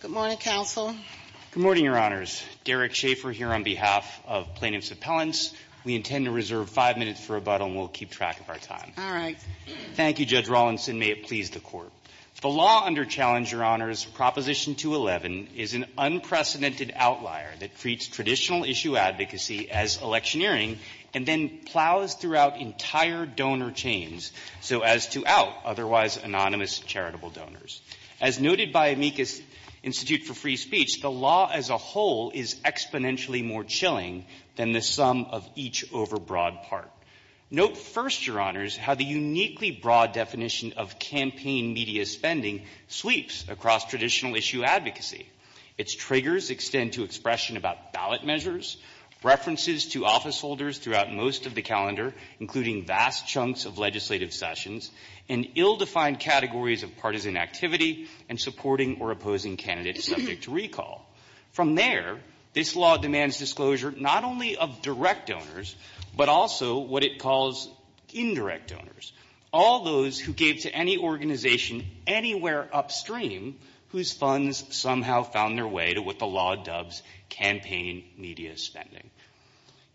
Good morning, counsel. Good morning, Your Honors. Derek Schaffer here on behalf of Plaintiffs' Appellants. We intend to reserve five minutes for rebuttal and we'll keep track of our time. All right. Thank you, Judge Rawlinson. May it please the Court. The law under challenge, Your Honors, Proposition 211 is an unprecedented outlier that treats traditional issue advocacy as electioneering and then plows throughout entire donor chains, so as to out otherwise anonymous charitable donors. As noted by Amicus Institute for Free Speech, the law as a whole is exponentially more chilling than the sum of each overbroad part. Note first, Your Honors, how the uniquely broad definition of campaign media spending sweeps across traditional issue advocacy. Its triggers extend to expression about ballot measures, references to officeholders throughout most of the calendar, including vast chunks of legislative sessions, and ill-defined categories of partisan activity and supporting or opposing candidates subject to recall. From there, this law demands disclosure not only of direct donors, but also what it calls indirect donors. All those who gave to any organization anywhere upstream whose funds somehow found their way to what the law dubs campaign media spending.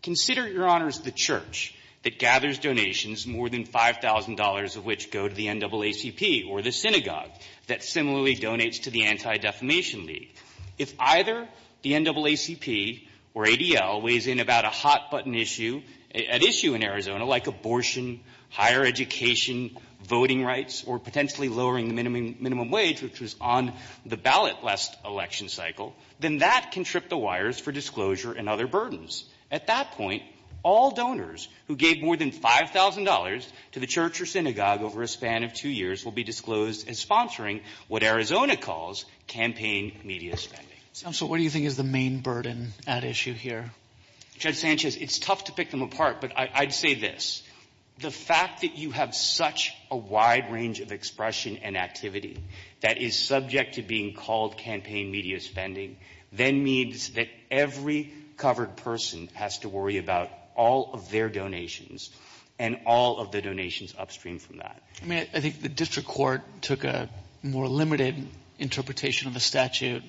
Consider, Your Honors, the church that gathers donations, more than $5,000 of which go to the NAACP or the synagogue that similarly donates to the Anti-Defamation League. If either the NAACP or ADL weighs in about a hot-button issue, an issue in Arizona like abortion, higher education, voting rights, or potentially lowering the minimum wage, which was on the ballot last election cycle, then that can trip the wires for disclosure and other burdens. At that point, all donors who gave more than $5,000 to the church or synagogue over a span of two years will be disclosed as sponsoring what Arizona calls campaign media spending. So what do you think is the main burden at issue here? Judge Sanchez, it's tough to pick them apart, but I'd say this. The fact that you have such a wide range of expression and activity that is subject to being called campaign media spending then means that every covered person has to worry about all of their donations and all of the donations upstream from that. I think the district court took a more limited interpretation of the statute,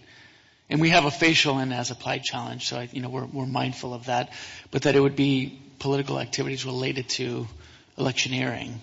and we have a facial in as applied challenge, so we're mindful of that, but that it would be political activities related to electioneering.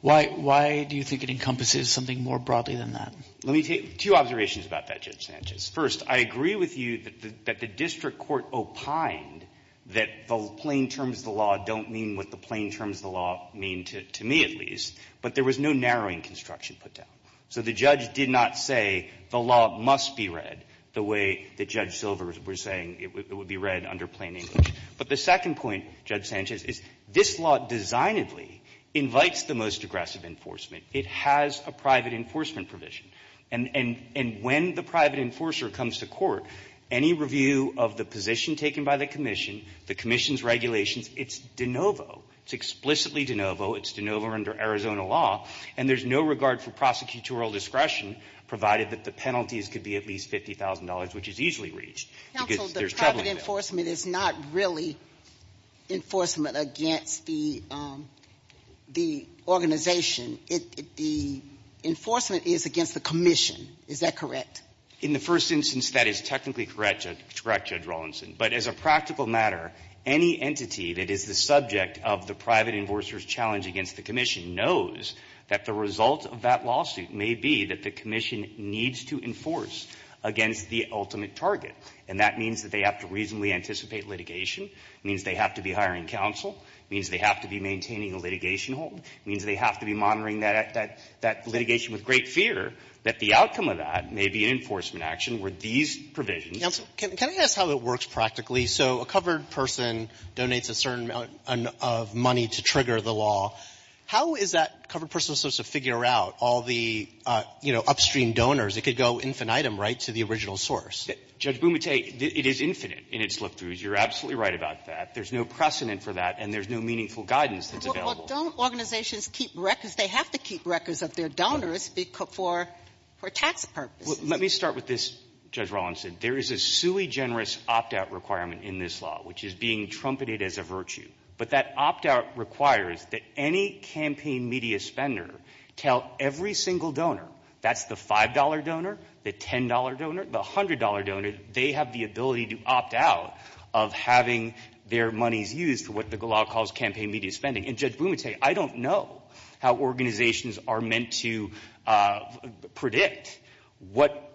Why do you think it encompasses something more broadly than that? Let me take two observations about that, Judge Sanchez. First, I agree with you that the district court opined that the plain terms of the law don't mean what the plain terms of the law mean to me, at least, but there was no narrowing construction put down. So the judge did not say the law must be read the way that Judge Silver was saying it would be read under plain English. But the second point, Judge Sanchez, is this law designedly invites the most aggressive enforcement. It has a private enforcement provision. And when the private enforcer comes to court, any review of the position taken by the commission, the commission's regulations, it's de novo. It's explicitly de novo. It's de novo under Arizona law. And there's no regard for prosecutorial discretion, provided that the penalties could be at least $50,000, which is easily reached. Because there's trouble with that. Counsel, the private enforcement is not really enforcement against the organization. The enforcement is against the commission. Is that correct? In the first instance, that is technically correct, Judge Rawlinson. But as a practical matter, any entity that is the subject of the private enforcer's litigation against the commission knows that the result of that lawsuit may be that the commission needs to enforce against the ultimate target. And that means that they have to reasonably anticipate litigation, means they have to be hiring counsel, means they have to be maintaining a litigation hold, means they have to be monitoring that litigation with great fear, that the outcome of that may be an enforcement action where these provisions — But that's how it works practically. So a covered person donates a certain amount of money to trigger the law. How is that covered person supposed to figure out all the, you know, upstream donors? It could go infinitum, right, to the original source. Judge Bumate, it is infinite in its look-throughs. You're absolutely right about that. There's no precedent for that, and there's no meaningful guidance that's available. Well, don't organizations keep records? They have to keep records of their donors for tax purposes. Let me start with this, Judge Rawlinson. There is a sui generis opt-out requirement in this law, which is being trumpeted as a virtue. But that opt-out requires that any campaign media spender tell every single donor — that's the $5 donor, the $10 donor, the $100 donor — they have the ability to opt out of having their monies used for what the law calls campaign media spending. And Judge Bumate, I don't know how organizations are meant to predict what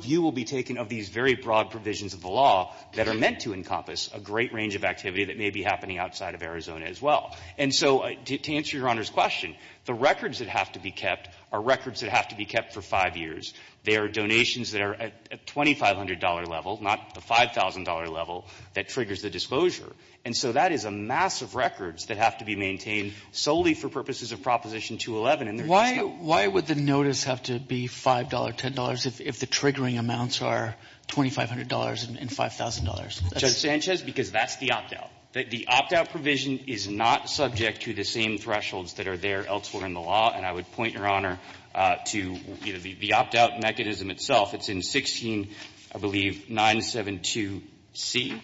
view will be taken of these very broad provisions of the law that are meant to encompass a great range of activity that may be happening outside of Arizona as well. And so to answer Your Honor's question, the records that have to be kept are records that have to be kept for five years. They are donations that are at $2,500 level, not the $5,000 level, that triggers the disclosure. And so that is a mass of records that have to be maintained solely for purposes of Proposition 211. Why would the notice have to be $5, $10 if the triggering amounts are $2,500 and $5,000? Judge Sanchez, because that's the opt-out. The opt-out provision is not subject to the same thresholds that are there elsewhere in the law, and I would point, Your Honor, to the opt-out mechanism itself. It's in 16, I believe, 972C.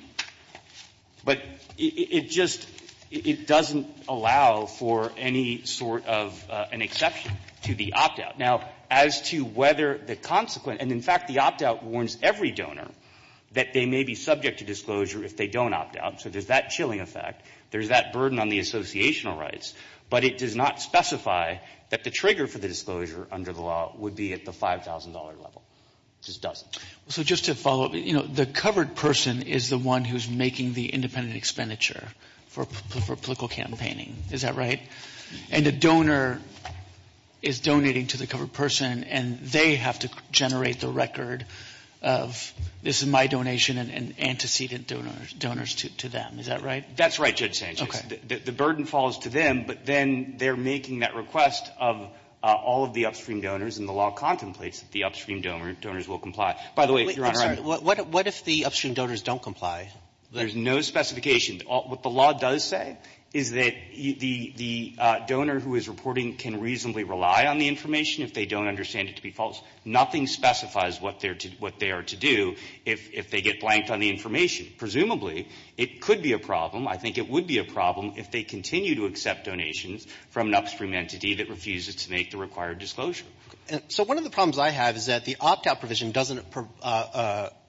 But it just doesn't allow for any sort of an exception to the opt-out. Now, as to whether the consequent, and in fact, the opt-out warns every donor that they may be subject to disclosure if they don't opt-out. So there's that chilling effect. There's that burden on the associational rights. But it does not specify that the trigger for the disclosure under the law would be at the $5,000 level. It just doesn't. So just to follow up, you know, the covered person is the one who's making the independent expenditure for political campaigning. Is that right? And the donor is donating to the covered person, and they have to generate the record of, this is my donation and antecedent donors to them. Is that right? That's right, Judge Sanchez. The burden falls to them, but then they're making that request of all of the upstream donors, and the law contemplates that the upstream donors will comply. By the way, Your Honor — I'm sorry. What if the upstream donors don't comply? There's no specification. What the law does say is that the donor who is reporting can reasonably rely on the information if they don't understand it to be false. Nothing specifies what they are to do if they get blanked on the information. Presumably, it could be a problem, I think it would be a problem, if they continue to accept donations from an upstream entity that refuses to make the required disclosure. So one of the problems I have is that the opt-out provision doesn't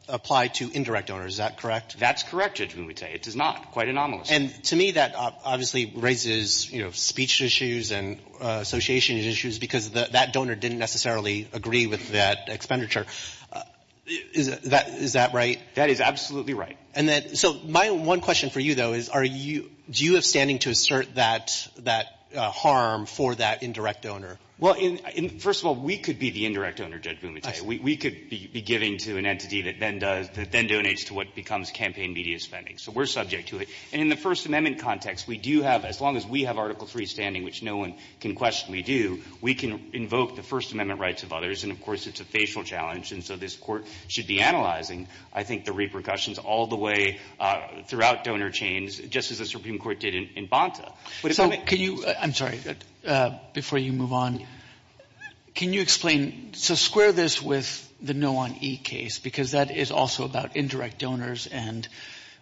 apply to indirect donors. Is that correct? That's correct, Judge Mumute. It does not. Quite anomalous. And to me, that obviously raises, you know, speech issues and association issues because that donor didn't necessarily agree with that expenditure. Is that right? That is absolutely right. And that — so my one question for you, though, is are you — do you have standing to assert that harm for that indirect donor? Well, in — first of all, we could be the indirect owner, Judge Mumute. We could be giving to an entity that then does — that then donates to what becomes campaign media spending. So we're subject to it. And in the First Amendment context, we do have — as long as we have Article III standing, which no one can question we do, we can invoke the First Amendment rights of others. And, of course, it's a facial challenge, and so this Court should be analyzing, I think, the repercussions all the way throughout donor chains, just as the Supreme Court did in Bonta. So can you — I'm sorry. Before you move on, can you explain — so square this with the No on E case, because that is also about indirect donors, and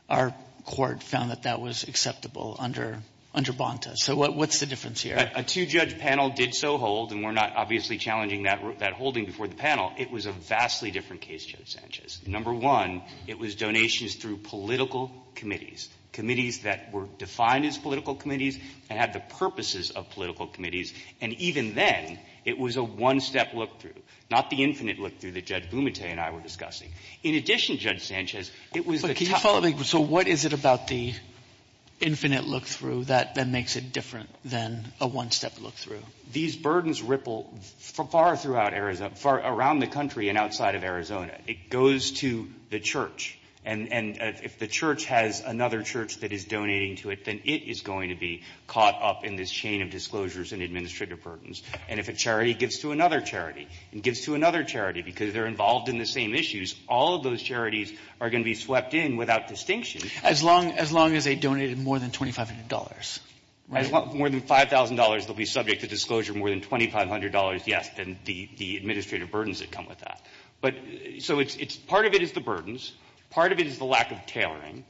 our court found that that was acceptable under Bonta. So what's the difference here? A two-judge panel did so hold, and we're not obviously challenging that holding before the panel. It was a vastly different case, Judge Sanchez. Number one, it was donations through political committees, committees that were defined as political committees and had the purposes of political committees. And even then, it was a one-step look-through, not the infinite look-through that Judge Bumate and I were discussing. In addition, Judge Sanchez, it was the — But can you follow — so what is it about the infinite look-through that makes it different than a one-step look-through? These burdens ripple far throughout Arizona — far around the country and outside of Arizona. It goes to the church. And if the church has another church that is donating to it, then it is going to be caught up in this chain of disclosures and administrative burdens. And if a charity gives to another charity and gives to another charity because they're involved in the same issues, all of those charities are going to be swept in without distinction. As long as they donated more than $2,500, right? More than $5,000, they'll be subject to disclosure. More than $2,500, yes, then the administrative burdens that come with that. But — so it's — part of it is the burdens. Part of it is the lack of tailoring.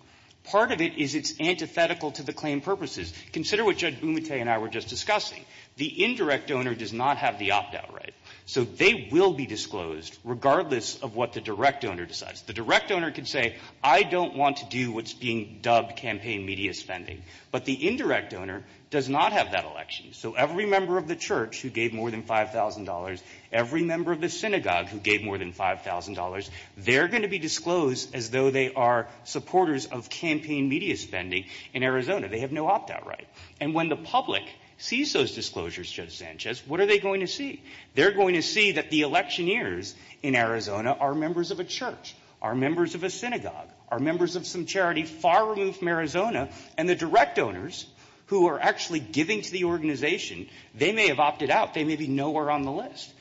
Part of it is it's antithetical to the claim purposes. Consider what Judge Bumate and I were just discussing. The indirect donor does not have the opt-out right, so they will be disclosed regardless of what the direct donor decides. The direct donor can say, I don't want to do what's being dubbed campaign media spending, but the indirect donor does not have that election. So every member of the church who gave more than $5,000, every member of the synagogue who gave more than $5,000, they're going to be disclosed as though they are supporters of campaign media spending in Arizona. They have no opt-out right. And when the public sees those disclosures, Judge Sanchez, what are they going to see? They're going to see that the electioneers in Arizona are members of a church, are members of a synagogue, are members of some charity far removed from Arizona, and the direct donors who are actually giving to the organization, they may have opted out. They may be nowhere on the list.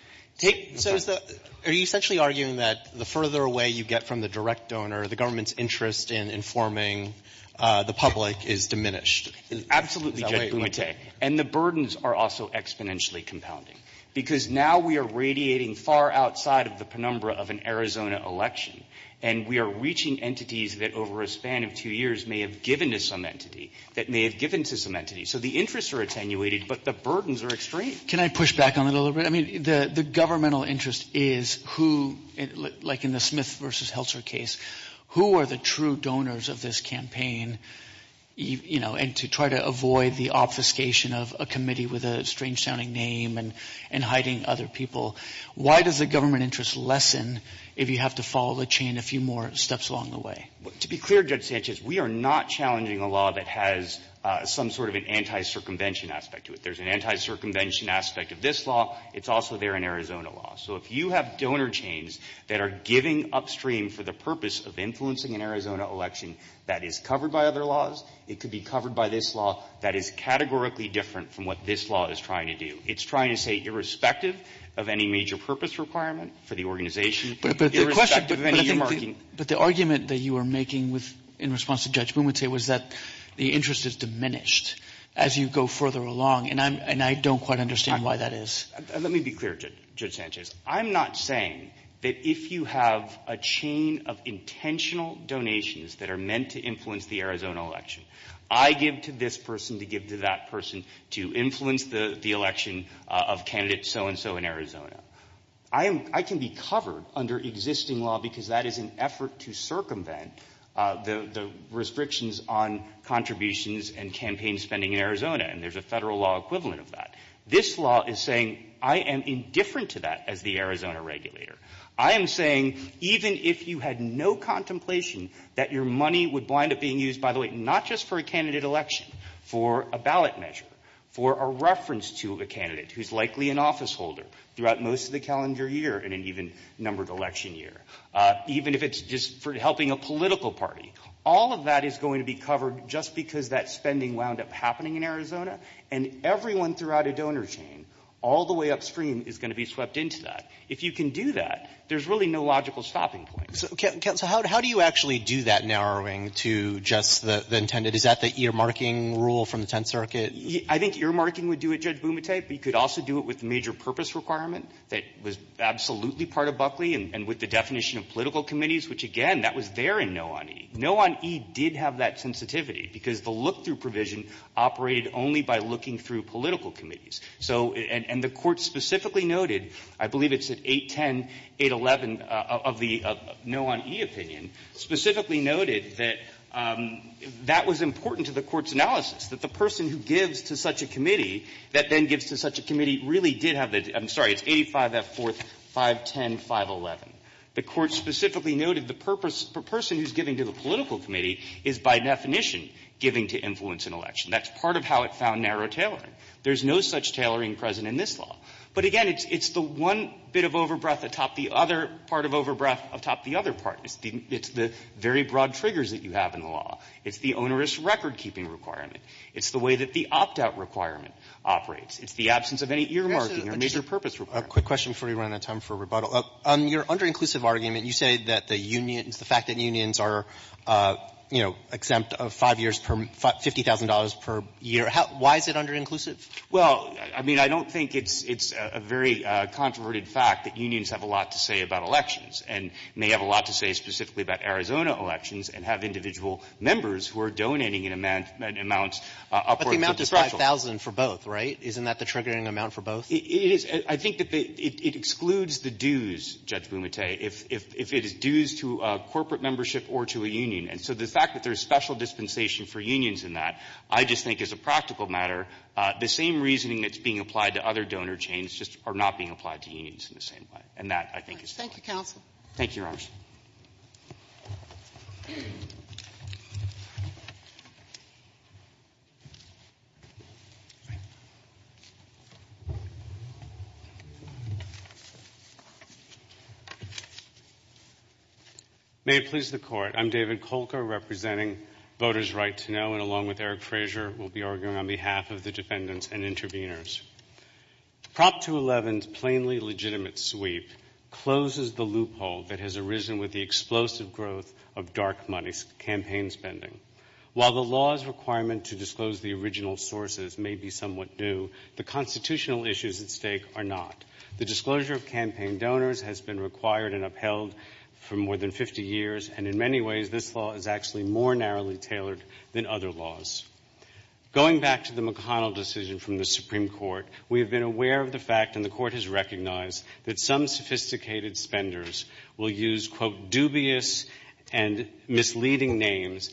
So is the — are you essentially arguing that the further away you get from the direct donor, the government's interest in informing the public is diminished? Absolutely, Judge Bumtei. And the burdens are also exponentially compounding, because now we are radiating far outside of the penumbra of an Arizona election, and we are reaching entities that over a span of two years may have given to some entity, that may have given to some entity. So the interests are attenuated, but the burdens are extreme. Can I push back on that a little bit? I mean, the governmental interest is who — like in the Smith v. Heltzer case, who are the true donors of this campaign, you know, and to try to avoid the obfuscation of a committee with a strange-sounding name and hiding other people. Why does the government interest lessen if you have to follow the chain a few more steps along the way? To be clear, Judge Sanchez, we are not challenging a law that has some sort of an anti-circumvention aspect to it. There's an anti-circumvention aspect of this law. It's also there in Arizona law. So if you have donor chains that are giving upstream for the purpose of influencing an Arizona election that is covered by other laws, it could be covered by this law that is categorically different from what this law is trying to do. It's trying to say, irrespective of any major purpose requirement for the organization, But the question — but I think the — but the argument that you are making with — in response to Judge Boone would say was that the interest is diminished as you go further along, and I'm — and I don't quite understand why that is. Let me be clear, Judge Sanchez. I'm not saying that if you have a chain of intentional donations that are meant to influence the Arizona election, I give to this person to give to that person to influence the election of candidate so-and-so in Arizona. I am — I can be covered under existing law because that is an effort to circumvent the restrictions on contributions and campaign spending in Arizona. And there's a federal law equivalent of that. This law is saying, I am indifferent to that as the Arizona regulator. I am saying, even if you had no contemplation that your money would wind up being used, by the way, not just for a candidate election, for a ballot measure, for a reference to a candidate who's likely an officeholder throughout most of the calendar year and an even-numbered election year, even if it's just for helping a political party, all of that is going to be covered just because that spending wound up happening in Arizona, and everyone throughout a donor chain, all the way upstream, is going to be swept into that. If you can do that, there's really no logical stopping point. So, Counsel, how do you actually do that narrowing to just the intended? Is that the ear-marking rule from the Tenth Circuit? I think ear-marking would do it, Judge Bumate. But you could also do it with the major purpose requirement that was absolutely part of Buckley and with the definition of political committees, which, again, that was there in No on E. No on E did have that sensitivity because the look-through provision operated only by looking through political committees. So, and the Court specifically noted, I believe it's at 810, 811 of the No on E opinion, specifically noted that that was important to the Court's analysis, that the person who gives to such a committee that then gives to such a committee really did have the — I'm sorry, it's 85F4, 510, 511. The Court specifically noted the person who's giving to the political committee is, by definition, giving to influence in election. That's part of how it found narrow tailoring. There's no such tailoring present in this law. But, again, it's the one bit of over-breath atop the other part of over-breath atop the other part. It's the very broad triggers that you have in the law. It's the onerous record-keeping requirement. It's the way that the opt-out requirement operates. It's the absence of any ear-marking or major purpose requirement. A quick question before we run out of time for rebuttal. On your under-inclusive argument, you say that the unions, the fact that unions are, you know, exempt of 5 years per $50,000 per year, why is it under-inclusive? Well, I mean, I don't think it's a very controverted fact that unions have a lot to say about elections and may have a lot to say specifically about Arizona elections and have individual members who are donating an amount upward to the special. But the amount is 5,000 for both, right? Isn't that the triggering amount for both? It is. I think that it excludes the dues, Judge Bumate, if it is dues to a corporate membership or to a union. And so the fact that there's special dispensation for unions in that, I just think as a practical matter, the same reasoning that's being applied to other donor chains just are not being applied to unions in the same way. And that, I think, is fair. Thank you, counsel. Thank you, Your Honors. May it please the Court, I'm David Kolker, representing Voters' Right to Know, and along with Eric Frazier, we'll be arguing on behalf of the defendants and intervenors. Prop 211's plainly legitimate sweep closes the loophole that has arisen with the explosive growth of dark money campaign spending. While the law's requirement to disclose the original sources may be somewhat new, the constitutional issues at stake are not. The disclosure of campaign donors has been required and upheld for more than 50 years, and in many ways, this law is actually more narrowly tailored than other laws. Going back to the McConnell decision from the Supreme Court, we have been aware of the fact, and the Court has recognized, that some sophisticated spenders will use, quote, dubious and misleading names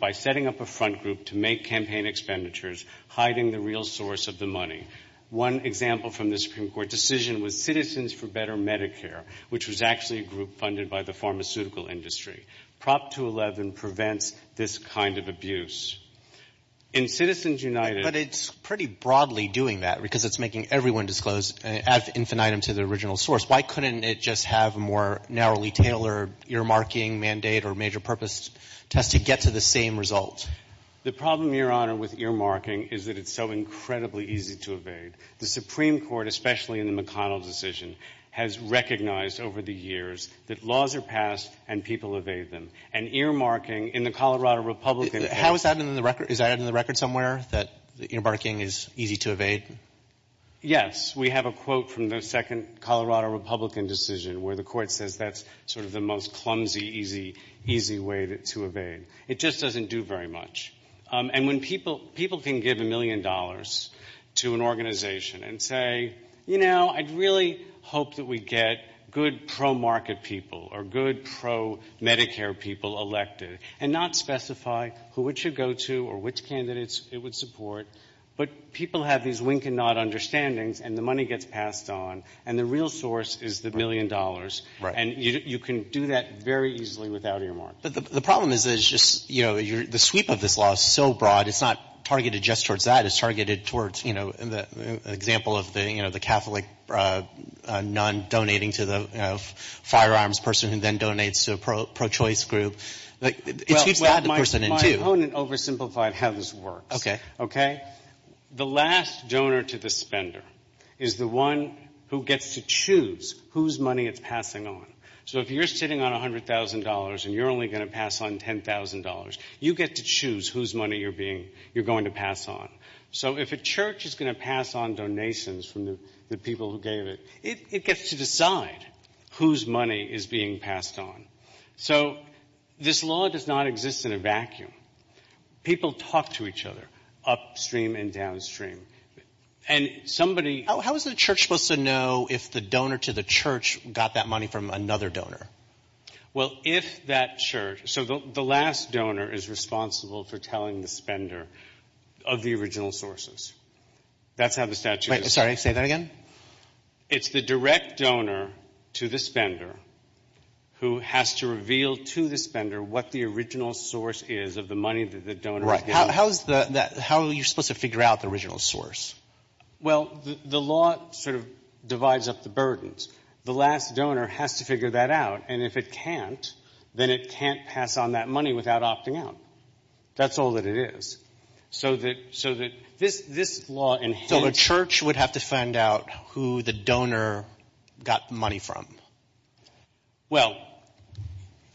by setting up a front group to make campaign expenditures, hiding the real source of the money. One example from the Supreme Court decision was Citizens for Better Medicare, which was actually a group funded by the pharmaceutical industry. Prop 211 prevents this kind of abuse. In Citizens United... But it's pretty broadly doing that, because it's making everyone disclose, add infinitum to the original source. Why couldn't it just have a more narrowly tailored earmarking mandate or major purpose test to get to the same result? The problem, Your Honor, with earmarking is that it's so incredibly easy to evade. The Supreme Court, especially in the McConnell decision, has recognized over the years that laws are passed and people evade them. And earmarking in the Colorado Republican... How is that in the record? Is that in the record somewhere, that earmarking is easy to evade? Yes. We have a quote from the second Colorado Republican decision where the Court says that's sort of the most clumsy, easy way to evade. It just doesn't do very much. And when people can give a million dollars to an organization and say, you know, I'd really hope that we get good pro-market people or good pro-Medicare people elected and not specify who it should go to or which candidates it would support. But people have these wink and nod understandings, and the money gets passed on. And the real source is the million dollars. And you can do that very easily without earmarking. The problem is that it's just, you know, the sweep of this law is so broad, it's not targeted just towards that. It's targeted towards, you know, an example of the, you know, the Catholic nun donating to the firearms person who then donates to a pro-choice group. Like, it's used to add the person in two. Well, my opponent oversimplified how this works. Okay. Okay? The last donor to the spender is the one who gets to choose whose money it's passing on. So if you're sitting on $100,000 and you're only going to pass on $10,000, you get to pass on. So if a church is going to pass on donations from the people who gave it, it gets to decide whose money is being passed on. So this law does not exist in a vacuum. People talk to each other upstream and downstream. And somebody... How is the church supposed to know if the donor to the church got that money from another donor? Well, if that church... So the last donor is responsible for telling the spender of the original sources. That's how the statute is. Wait. Sorry. Say that again? It's the direct donor to the spender who has to reveal to the spender what the original source is of the money that the donor is giving. Right. How is the... How are you supposed to figure out the original source? Well, the law sort of divides up the burdens. The last donor has to figure that out. And if it can't, then it can't pass on that money without opting out. That's all that it is. So that this law... So the church would have to find out who the donor got the money from. Well,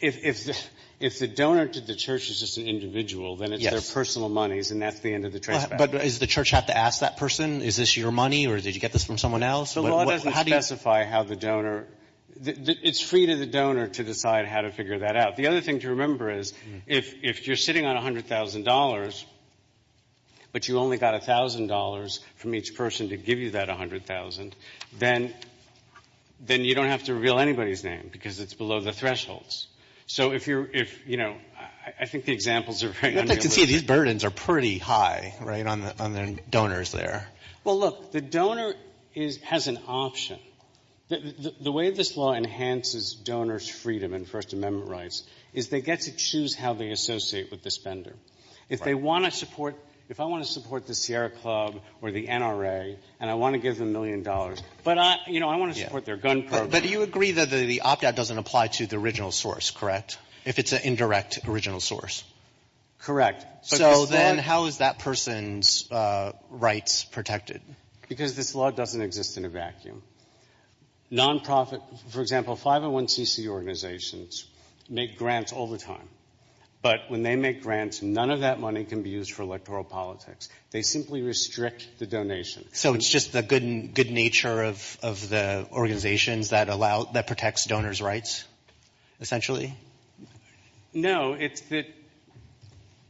if the donor to the church is just an individual, then it's their personal monies, and that's the end of the traceback. But does the church have to ask that person, is this your money, or did you get this from someone else? The law doesn't specify how the donor... It's free to the donor to decide how to figure that out. The other thing to remember is if you're sitting on $100,000, but you only got $1,000 from each person to give you that $100,000, then you don't have to reveal anybody's name because it's below the thresholds. So if you're, you know, I think the examples are very unrealistic. You can see these burdens are pretty high, right, on the donors there. Well, look, the donor has an option. The way this law enhances donors' freedom and First Amendment rights is they get to choose how they associate with the spender. If they want to support, if I want to support the Sierra Club or the NRA, and I want to give them a million dollars, but I, you know, I want to support their gun program. But you agree that the op-ed doesn't apply to the original source, correct, if it's an indirect original source? Correct. So then how is that person's rights protected? Because this law doesn't exist in a vacuum. Non-profit, for example, 501c organizations make grants all the time. But when they make grants, none of that money can be used for electoral politics. They simply restrict the donation. So it's just the good nature of the organizations that allow, that protects donors' rights, essentially? No, it's that,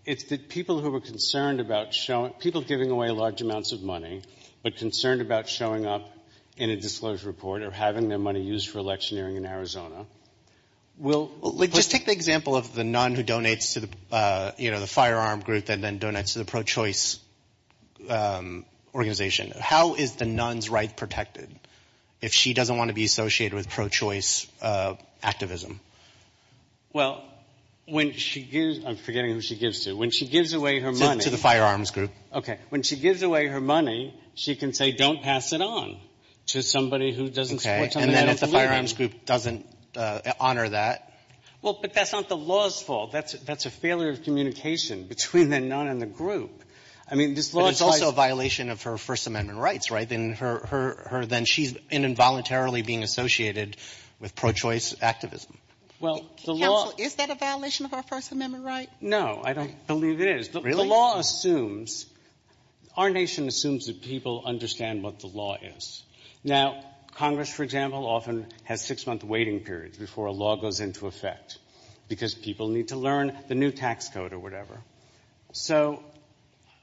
it's that people who are concerned about showing, people giving away large amounts of money, but concerned about showing up in a disclosure report or having their money used for electioneering in Arizona will... Just take the example of the nun who donates to the, you know, the firearm group and then donates to the pro-choice organization. How is the nun's right protected if she doesn't want to be associated with pro-choice activism? Well, when she gives, I'm forgetting who she gives to. When she gives away her money... To the firearms group. Okay. When she gives away her money, she can say, don't pass it on to somebody who doesn't support some of that. Okay. And then if the firearms group doesn't honor that... Well, but that's not the law's fault. That's a failure of communication between the nun and the group. I mean, this law... But it's also a violation of her First Amendment rights, right? Then she's involuntarily being associated with pro-choice activism. Counsel, is that a violation of our First Amendment rights? No, I don't believe it is. Really? The law assumes, our nation assumes that people understand what the law is. Now, Congress, for example, often has six-month waiting periods before a law goes into effect because people need to learn the new tax code or whatever. So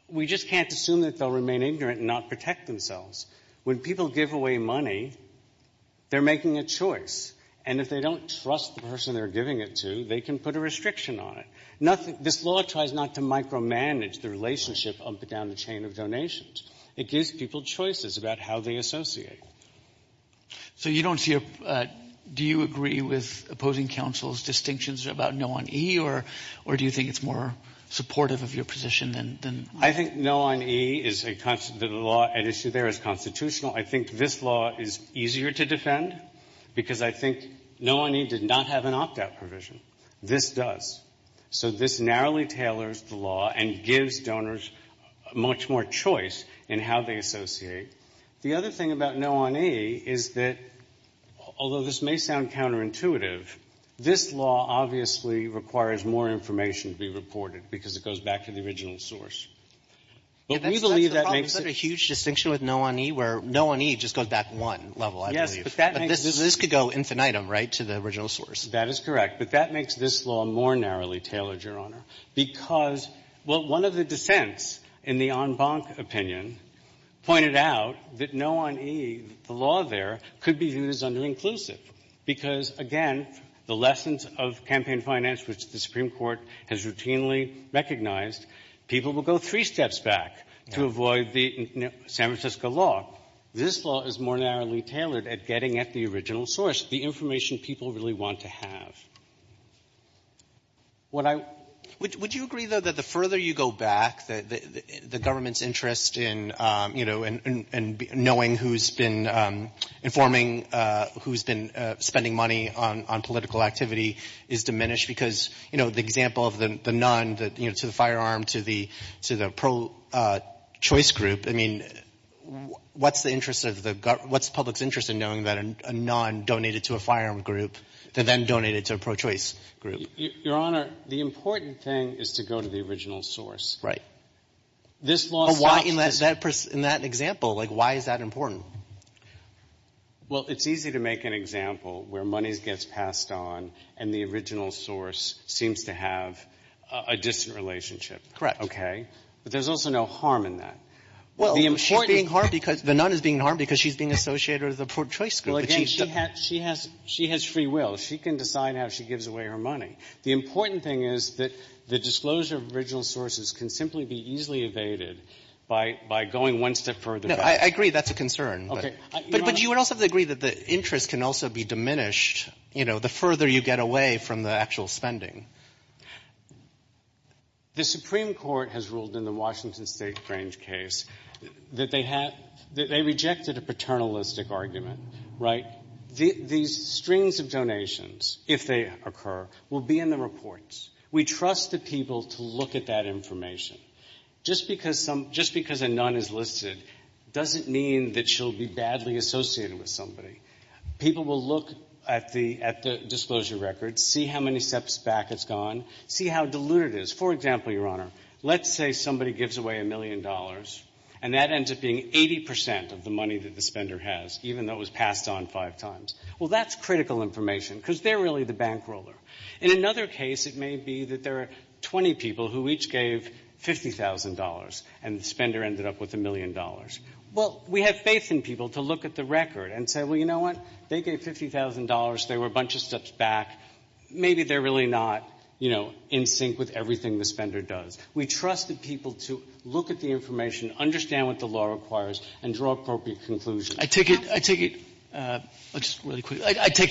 we just can't assume that they'll remain ignorant and not protect themselves. When people give away money, they're making a choice. And if they don't trust the person they're giving it to, they can put a restriction on it. This law tries not to micromanage the relationship up and down the chain of donations. It gives people choices about how they associate. So you don't see a... Do you agree with opposing counsel's distinctions about No on E? Or do you think it's more supportive of your position than... I think No on E is a... The law at issue there is constitutional. I think this law is easier to defend because I think No on E did not have an opt-out provision. This does. So this narrowly tailors the law and gives donors much more choice in how they associate. The other thing about No on E is that, although this may sound counterintuitive, this law obviously requires more information to be reported because it goes back to the original source. But we believe that makes it... That's the problem. Is there a huge distinction with No on E where No on E just goes back one level, I believe. Yes, but that makes... But this could go infinitum, right, to the original source. That is correct. But that makes this law more narrowly tailored, Your Honor, because what one of the dissents in the en banc opinion pointed out, that No on E, the law there, could be viewed as underinclusive because, again, the lessons of campaign finance, which the Supreme Court has routinely recognized, people will go three steps back to avoid the San Francisco law. This law is more narrowly tailored at getting at the original source, the information people really want to have. What I... Would you agree, though, that the further you go back, the government's interest in, you know, in knowing who's been informing, who's been spending money on political activity is diminished because, you know, the example of the non, you know, to the firearm, to the pro-choice group, I mean, what's the interest of the... What's the public's interest in knowing that a non donated to a firearm group that then donated to a pro-choice group? Your Honor, the important thing is to go to the original source. This law... But why, in that example, like, why is that important? Well, it's easy to make an example where money gets passed on and the original source seems to have a distant relationship. Correct. Okay? But there's also no harm in that. Well, the important... She's being harmed because the non is being harmed because she's being associated with the pro-choice group. Well, again, she has free will. She can decide how she gives away her money. The important thing is that the disclosure of original sources can simply be easily evaded by going one step further back. No, I agree that's a concern. Okay. Your Honor... But you would also have to agree that the interest can also be diminished, you know, the further you get away from the actual spending. The Supreme Court has ruled in the Washington State Grange case that they have, that they rejected a paternalistic argument, right? These strings of donations, if they occur, will be in the reports. We trust the people to look at that information. Just because a non is listed doesn't mean that she'll be badly associated with somebody. People will look at the disclosure records, see how many steps back it's gone, see how deluded it is. For example, Your Honor, let's say somebody gives away a million dollars and that ends up being 80 percent of the money that the spender has, even though it was passed on five times. Well, that's critical information because they're really the bank roller. In another case, it may be that there are 20 people who each gave $50,000 and the spender ended up with a million dollars. Well, we have faith in people to look at the record and say, well, you know what? They gave $50,000. They were a bunch of steps back. Maybe they're really not, you know, in sync with everything the spender does. We trust the people to look at the information, understand what the law requires, and draw appropriate conclusions. I take it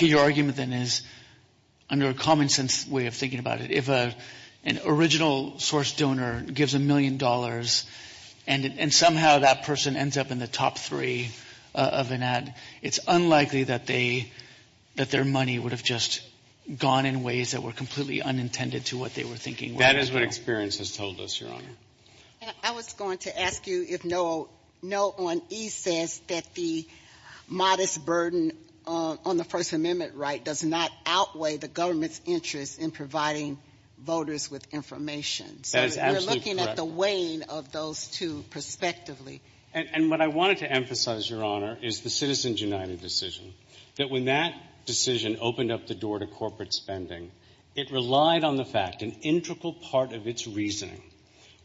your argument then is, under a common sense way of thinking about it, if an original source donor gives a million dollars and somehow that person ends up in the top three of an ad, it's unlikely that their money would have just gone in ways that were completely unintended to what they were thinking. That is what experience has told us, Your Honor. And I was going to ask you if Noah, Noah on E says that the modest burden on the First Amendment right does not outweigh the government's interest in providing voters with information. That is absolutely correct. So we're looking at the weighing of those two perspectively. And what I wanted to emphasize, Your Honor, is the Citizens United decision. That when that decision opened up the door to corporate spending, it relied on the fact that an integral part of its reasoning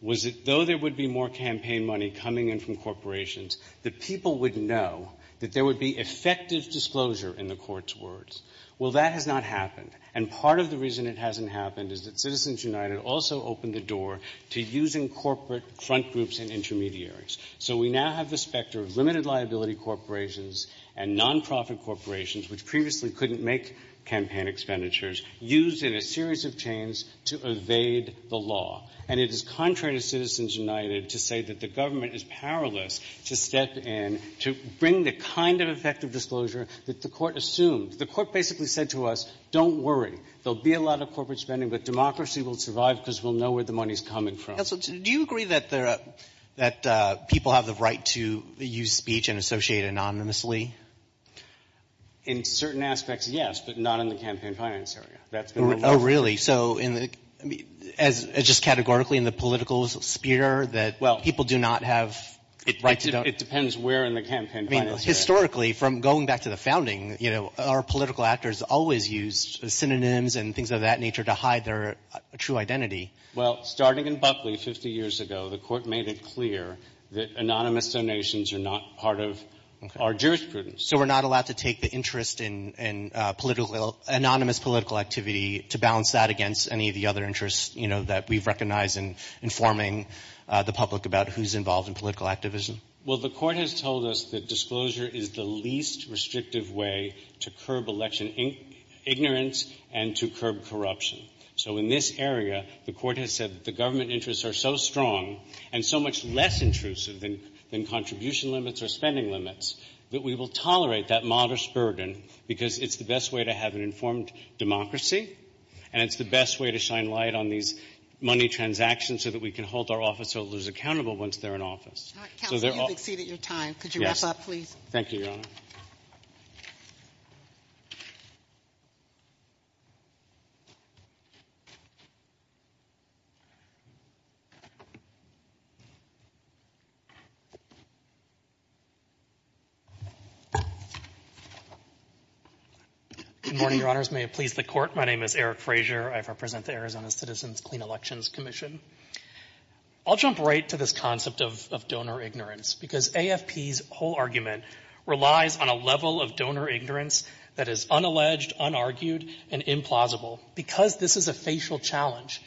was that though there would be more campaign money coming in from corporations, the people would know that there would be effective disclosure in the court's words. Well, that has not happened. And part of the reason it hasn't happened is that Citizens United also opened the door to using corporate front groups and intermediaries. So we now have the specter of limited liability corporations and nonprofit corporations, which previously couldn't make campaign expenditures, used in a series of chains to evade the law. And it is contrary to Citizens United to say that the government is powerless to step in to bring the kind of effective disclosure that the Court assumed. The Court basically said to us, don't worry. There will be a lot of corporate spending, but democracy will survive because we'll know where the money is coming from. Counsel, do you agree that people have the right to use speech and associate anonymously? In certain aspects, yes, but not in the campaign finance area. Oh, really? So just categorically in the political sphere, that people do not have the right to don't? It depends where in the campaign finance area. Historically, from going back to the founding, our political actors always used synonyms and things of that nature to hide their true identity. Well, starting in Buckley 50 years ago, the Court made it clear that anonymous donations are not part of our jurisprudence. So we're not allowed to take the interest in anonymous political activity to balance that against any of the other interests that we've recognized in informing the public about who's involved in political activism? Well, the Court has told us that disclosure is the least restrictive way to curb election ignorance and to curb corruption. So in this area, the Court has said that the government interests are so strong and so much less intrusive than contribution limits or spending limits that we will tolerate that modest burden because it's the best way to have an informed democracy and it's the best way to shine light on these money transactions so that we can hold our officeholders accountable once they're in office. Counsel, you've exceeded your time. Could you wrap up, please? Yes. Thank you, Your Honor. Good morning, Your Honors. May it please the Court, my name is Eric Frazier. I represent the Arizona Citizens' Clean Elections Commission. I'll jump right to this concept of donor ignorance because AFP's whole argument relies on a level of donor ignorance that is unalleged, unargued, and implausible. Because this is a facial challenge,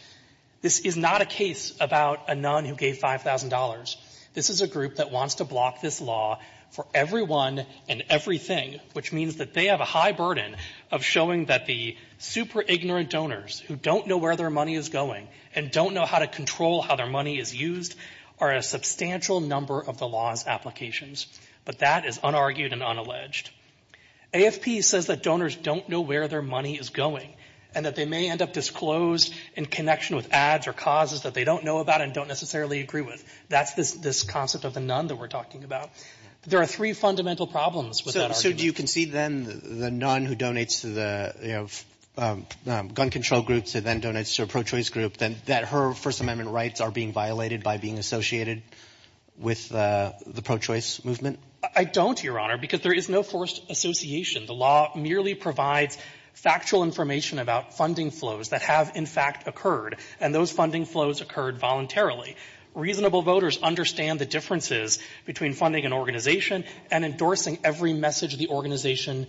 this is not a case about a nun who gave $5,000. This is a group that wants to block this law for everyone and everything, which means that they have a high burden of showing that the super-ignorant donors who don't know where their money is going and don't know how to control how their money is used are a substantial number of the law's applications. But that is unargued and unalleged. AFP says that donors don't know where their money is going and that they may end up disclosed in connection with ads or causes that they don't know about and don't necessarily agree with. That's this concept of the nun that we're talking about. There are three fundamental problems with that argument. So do you concede, then, the nun who donates to the gun control groups and then donates to a pro-choice group, that her First Amendment rights are being violated by being associated with the pro-choice movement? I don't, Your Honor, because there is no forced association. The law merely provides factual information about funding flows that have, in fact, occurred, and those funding flows occurred voluntarily. Reasonable voters understand the differences between funding an organization and endorsing every message the organization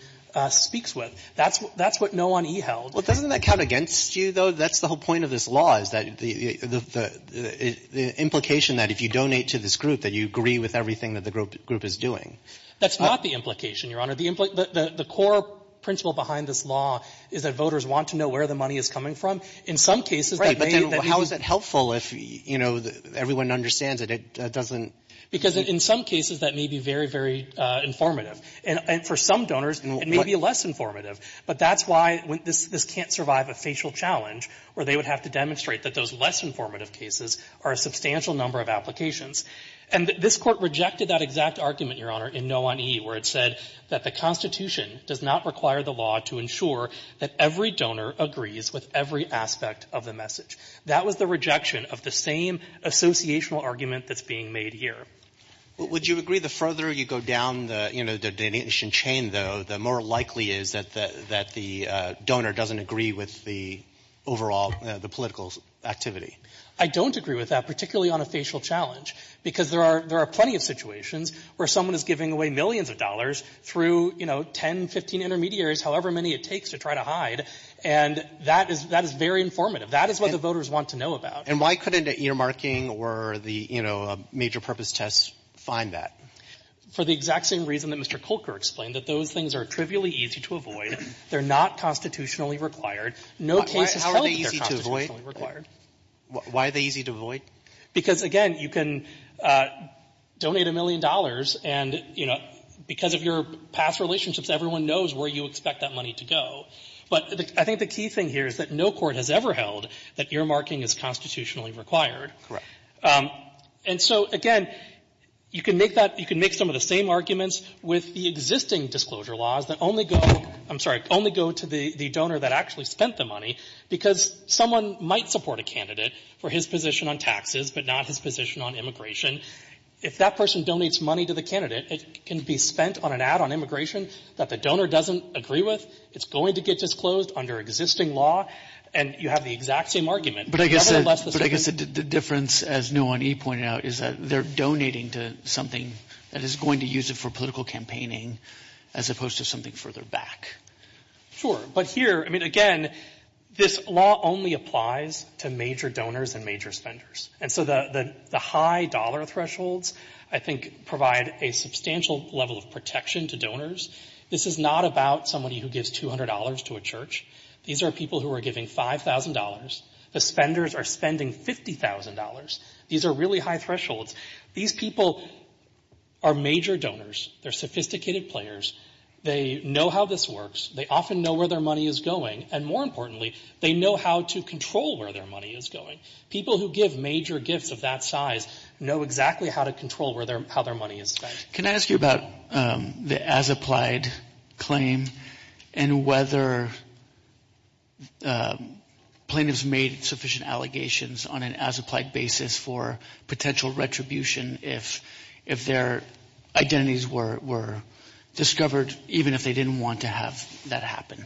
speaks with. That's what no one e-held. Well, doesn't that count against you, though? That's the whole point of this law is that the implication that if you donate to this That's not the implication, Your Honor. The core principle behind this law is that voters want to know where the money is coming from. In some cases, that may be How is that helpful if, you know, everyone understands it? It doesn't Because in some cases, that may be very, very informative. And for some donors, it may be less informative. But that's why this can't survive a facial challenge where they would have to demonstrate that those less informative cases are a substantial number of applications. And this court rejected that exact argument, Your Honor, in no one e, where it said that the Constitution does not require the law to ensure that every donor agrees with every aspect of the message. That was the rejection of the same associational argument that's being made here. Would you agree the further you go down the, you know, the donation chain, though, the more likely is that the donor doesn't agree with the overall the political activity? I don't agree with that, particularly on a facial challenge. Because there are plenty of situations where someone is giving away millions of dollars through, you know, 10, 15 intermediaries, however many it takes to try to hide, and that is very informative. That is what the voters want to know about. And why couldn't earmarking or the, you know, major purpose test find that? For the exact same reason that Mr. Kolker explained, that those things are trivially easy to avoid. They're not constitutionally required. No case is held that they're constitutionally required. How are they easy to avoid? Why are they easy to avoid? Because, again, you can donate a million dollars and, you know, because of your past relationships, everyone knows where you expect that money to go. But I think the key thing here is that no court has ever held that earmarking is constitutionally required. And so, again, you can make that you can make some of the same arguments with the existing disclosure laws that only go, I'm sorry, only go to the donor that actually spent the money. Because someone might support a candidate for his position on taxes, but not his position on immigration. If that person donates money to the candidate, it can be spent on an ad on immigration that the donor doesn't agree with. It's going to get disclosed under existing law, and you have the exact same argument. But nevertheless, the same. But I guess the difference, as Nguyen E. pointed out, is that they're donating to something that is going to use it for political campaigning, as opposed to something further back. Sure. But here, I mean, again, this law only applies to major donors and major spenders. And so the high dollar thresholds, I think, provide a substantial level of protection to donors. This is not about somebody who gives $200 to a church. These are people who are giving $5,000. The spenders are spending $50,000. These are really high thresholds. These people are major donors. They're sophisticated players. They know how this works. They often know where their money is going. And more importantly, they know how to control where their money is going. People who give major gifts of that size know exactly how to control how their money is spent. Can I ask you about the as-applied claim and whether plaintiffs made sufficient allegations on an as-applied basis for potential retribution if their identities were discovered, even if they didn't want to have that happen?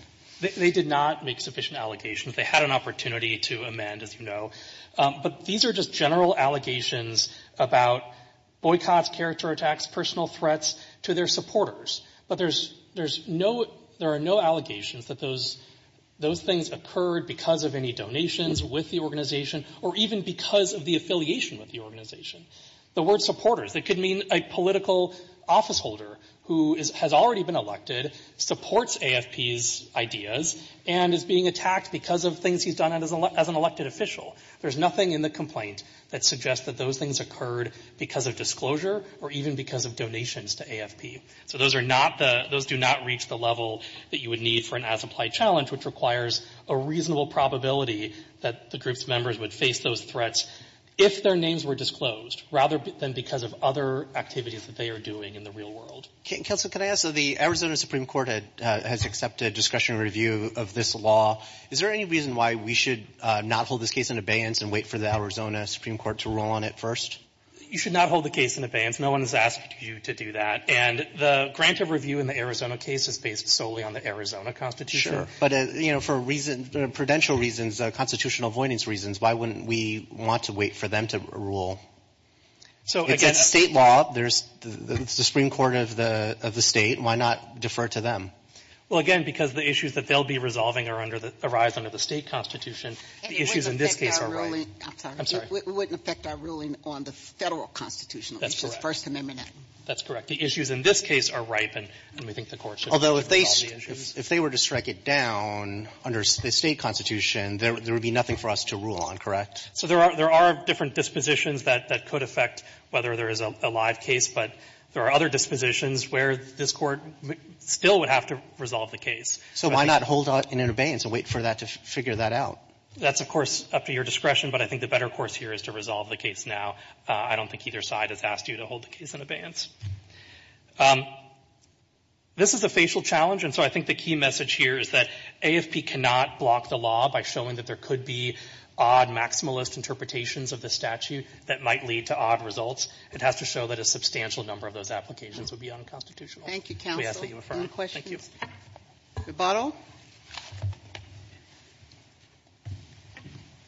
They did not make sufficient allegations. They had an opportunity to amend, as you know. But these are just general allegations about boycotts, character attacks, personal threats to their supporters. But there are no allegations that those things occurred because of any donations with the organization or even because of the affiliation with the organization. The word supporters, it could mean a political officeholder who has already been elected, supports AFP's ideas, and is being attacked because of things he's done as an elected official. There's nothing in the complaint that suggests that those things occurred because of disclosure or even because of donations to AFP. So those are not the – those do not reach the level that you would need for an as-applied challenge, which requires a reasonable probability that the group's identities were disclosed, rather than because of other activities that they are doing in the real world. Counsel, can I ask, so the Arizona Supreme Court has accepted discussion review of this law. Is there any reason why we should not hold this case in abeyance and wait for the Arizona Supreme Court to rule on it first? You should not hold the case in abeyance. No one has asked you to do that. And the grant of review in the Arizona case is based solely on the Arizona Constitution. Sure. But, you know, for reason – prudential reasons, constitutional avoidance reasons, why wouldn't we want to wait for them to rule? It's a State law. It's the Supreme Court of the State. Why not defer to them? Well, again, because the issues that they'll be resolving arise under the State Constitution. The issues in this case are ripe. And it wouldn't affect our ruling – I'm sorry. I'm sorry. It wouldn't affect our ruling on the Federal Constitution, which is First Amendment. That's correct. The issues in this case are ripe, and we think the Court should resolve the issues. Although if they were to strike it down under the State Constitution, there would be nothing for us to rule on, correct? So there are different dispositions that could affect whether there is a live case, but there are other dispositions where this Court still would have to resolve the case. So why not hold it in abeyance and wait for that to figure that out? That's, of course, up to your discretion, but I think the better course here is to resolve the case now. I don't think either side has asked you to hold the case in abeyance. This is a facial challenge, and so I think the key message here is that AFP cannot block the law by showing that there could be odd maximalist interpretations of the statute that might lead to odd results. It has to show that a substantial number of those applications would be unconstitutional. Thank you, counsel. Any questions? Thank you. Gabbardo.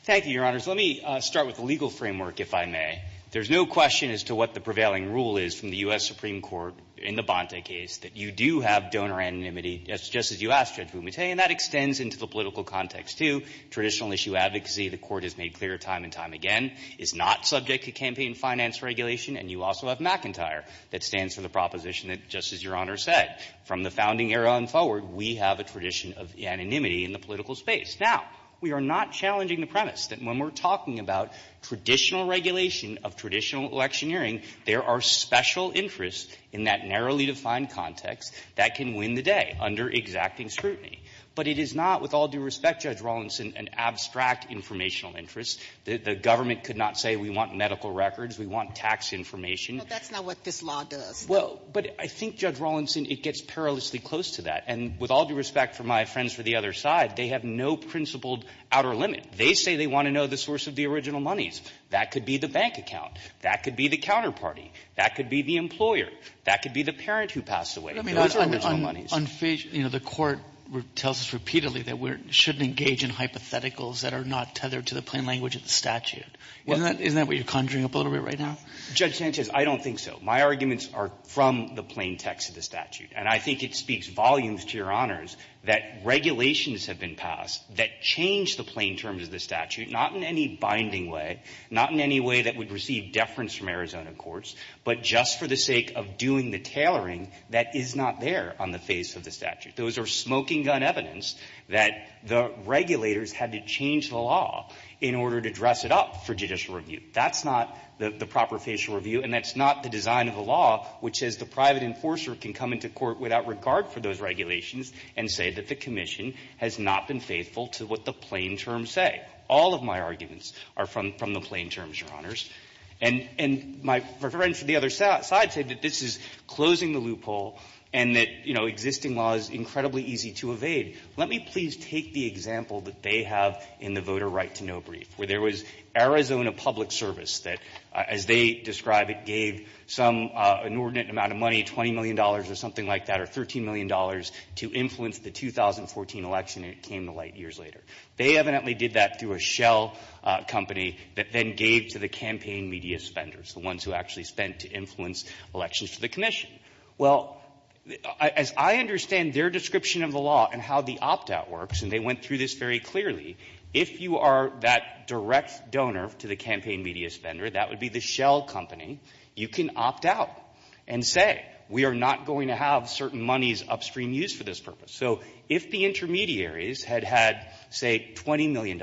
Thank you, Your Honors. Let me start with the legal framework, if I may. There's no question as to what the prevailing rule is from the U.S. Supreme Court in the Bonta case, that you do have donor anonymity, just as you asked, Judge Breyer, in the political context, too. Traditional issue advocacy, the Court has made clear time and time again, is not subject to campaign finance regulation, and you also have McIntyre that stands for the proposition that, just as Your Honor said, from the founding era on forward, we have a tradition of anonymity in the political space. Now, we are not challenging the premise that when we're talking about traditional regulation of traditional electioneering, there are special interests in that narrowly defined context that can win the day under exacting scrutiny. But it is not, with all due respect, Judge Rawlinson, an abstract informational interest. The government could not say we want medical records, we want tax information. But that's not what this law does. Well, but I think, Judge Rawlinson, it gets perilously close to that. And with all due respect for my friends for the other side, they have no principled outer limit. They say they want to know the source of the original monies. That could be the bank account. That could be the counterparty. That could be the employer. That could be the parent who passed away. Those are original monies. Unfeasible. You know, the Court tells us repeatedly that we shouldn't engage in hypotheticals that are not tethered to the plain language of the statute. Isn't that what you're conjuring up a little bit right now? Judge Sanchez, I don't think so. My arguments are from the plain text of the statute. And I think it speaks volumes to Your Honors that regulations have been passed that change the plain terms of the statute, not in any binding way, not in any way that would receive deference from Arizona courts, but just for the sake of doing the tailoring that is not there on the face of the statute. Those are smoking-gun evidence that the regulators had to change the law in order to dress it up for judicial review. That's not the proper facial review, and that's not the design of the law, which says the private enforcer can come into court without regard for those regulations and say that the commission has not been faithful to what the plain terms say. All of my arguments are from the plain terms, Your Honors. And my friend from the other side said that this is closing the loophole and that, you know, existing law is incredibly easy to evade. Let me please take the example that they have in the voter right to know brief, where there was Arizona Public Service that, as they describe it, gave some inordinate amount of money, $20 million or something like that, or $13 million to influence the 2014 election, and it came to light years later. They evidently did that through a shell company that then gave to the campaign media spenders, the ones who actually spent to influence elections to the commission. Well, as I understand their description of the law and how the opt-out works, and they went through this very clearly, if you are that direct donor to the campaign media spender, that would be the shell company, you can opt out and say, we are not going to have certain monies upstream used for this purpose. So if the intermediaries had had, say, $20 million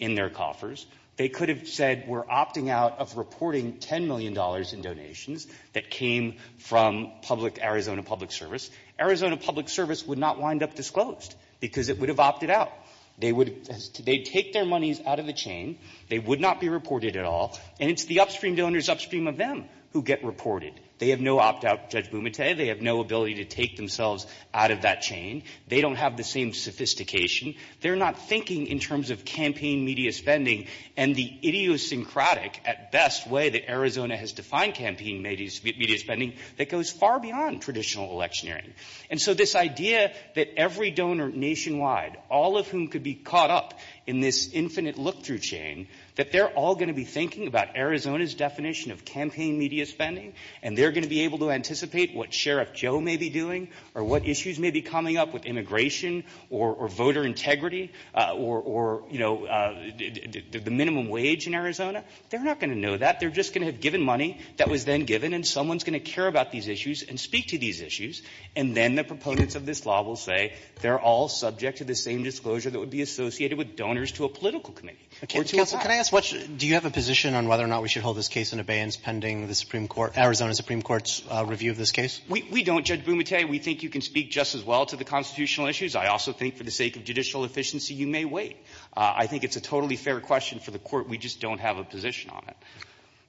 in their coffers, they could have said, we're opting out of reporting $10 million in donations that came from public Arizona Public Service. Arizona Public Service would not wind up disclosed, because it would have opted out. They would take their monies out of the chain, they would not be reported at all, and it's the upstream donors upstream of them who get reported. They have no opt-out, Judge Bumate. They have no ability to take themselves out of that chain. They don't have the same sophistication. They're not thinking in terms of campaign media spending and the idiosyncratic, at best, way that Arizona has defined campaign media spending that goes far beyond traditional electioneering. And so this idea that every donor nationwide, all of whom could be caught up in this infinite look-through chain, that they're all going to be thinking about Arizona's definition of campaign media spending, and they're going to be able to anticipate what Sheriff Joe may be doing or what issues may be coming up with immigration or voter integrity or, you know, the minimum wage in Arizona, they're not going to know that. They're just going to have given money that was then given, and someone's going to care about these issues and speak to these issues, and then the proponents of this law will say, they're all subject to the same disclosure that would be associated with donors to a political committee. Robertson, can I ask, do you have a position on whether or not we should hold this case in abeyance pending the Supreme Court, Arizona Supreme Court's review of this case? We don't, Judge Bumate. We think you can speak just as well to the constitutional issues. I also think for the sake of judicial efficiency, you may wait. I think it's a totally fair question for the Court. We just don't have a position on it.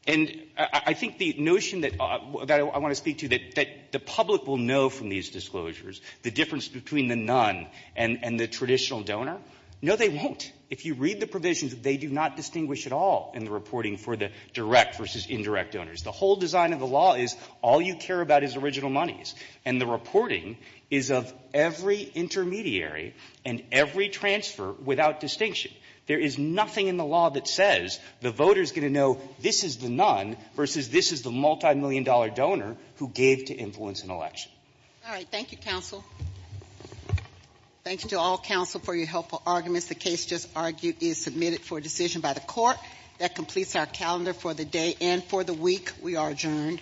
And I think the notion that I want to speak to, that the public will know from these disclosures the difference between the none and the traditional donor, no, they won't. If you read the provisions, they do not distinguish at all in the reporting for the direct versus indirect donors. The whole design of the law is all you care about is original monies. And the reporting is of every intermediary and every transfer without distinction. There is nothing in the law that says the voter is going to know this is the none versus this is the multimillion-dollar donor who gave to influence an election. All right. Thank you, counsel. Thank you to all counsel for your helpful arguments. The case just argued is submitted for decision by the Court. That completes our calendar for the day and for the week. We are adjourned. All rise. This court for this session stands adjourned.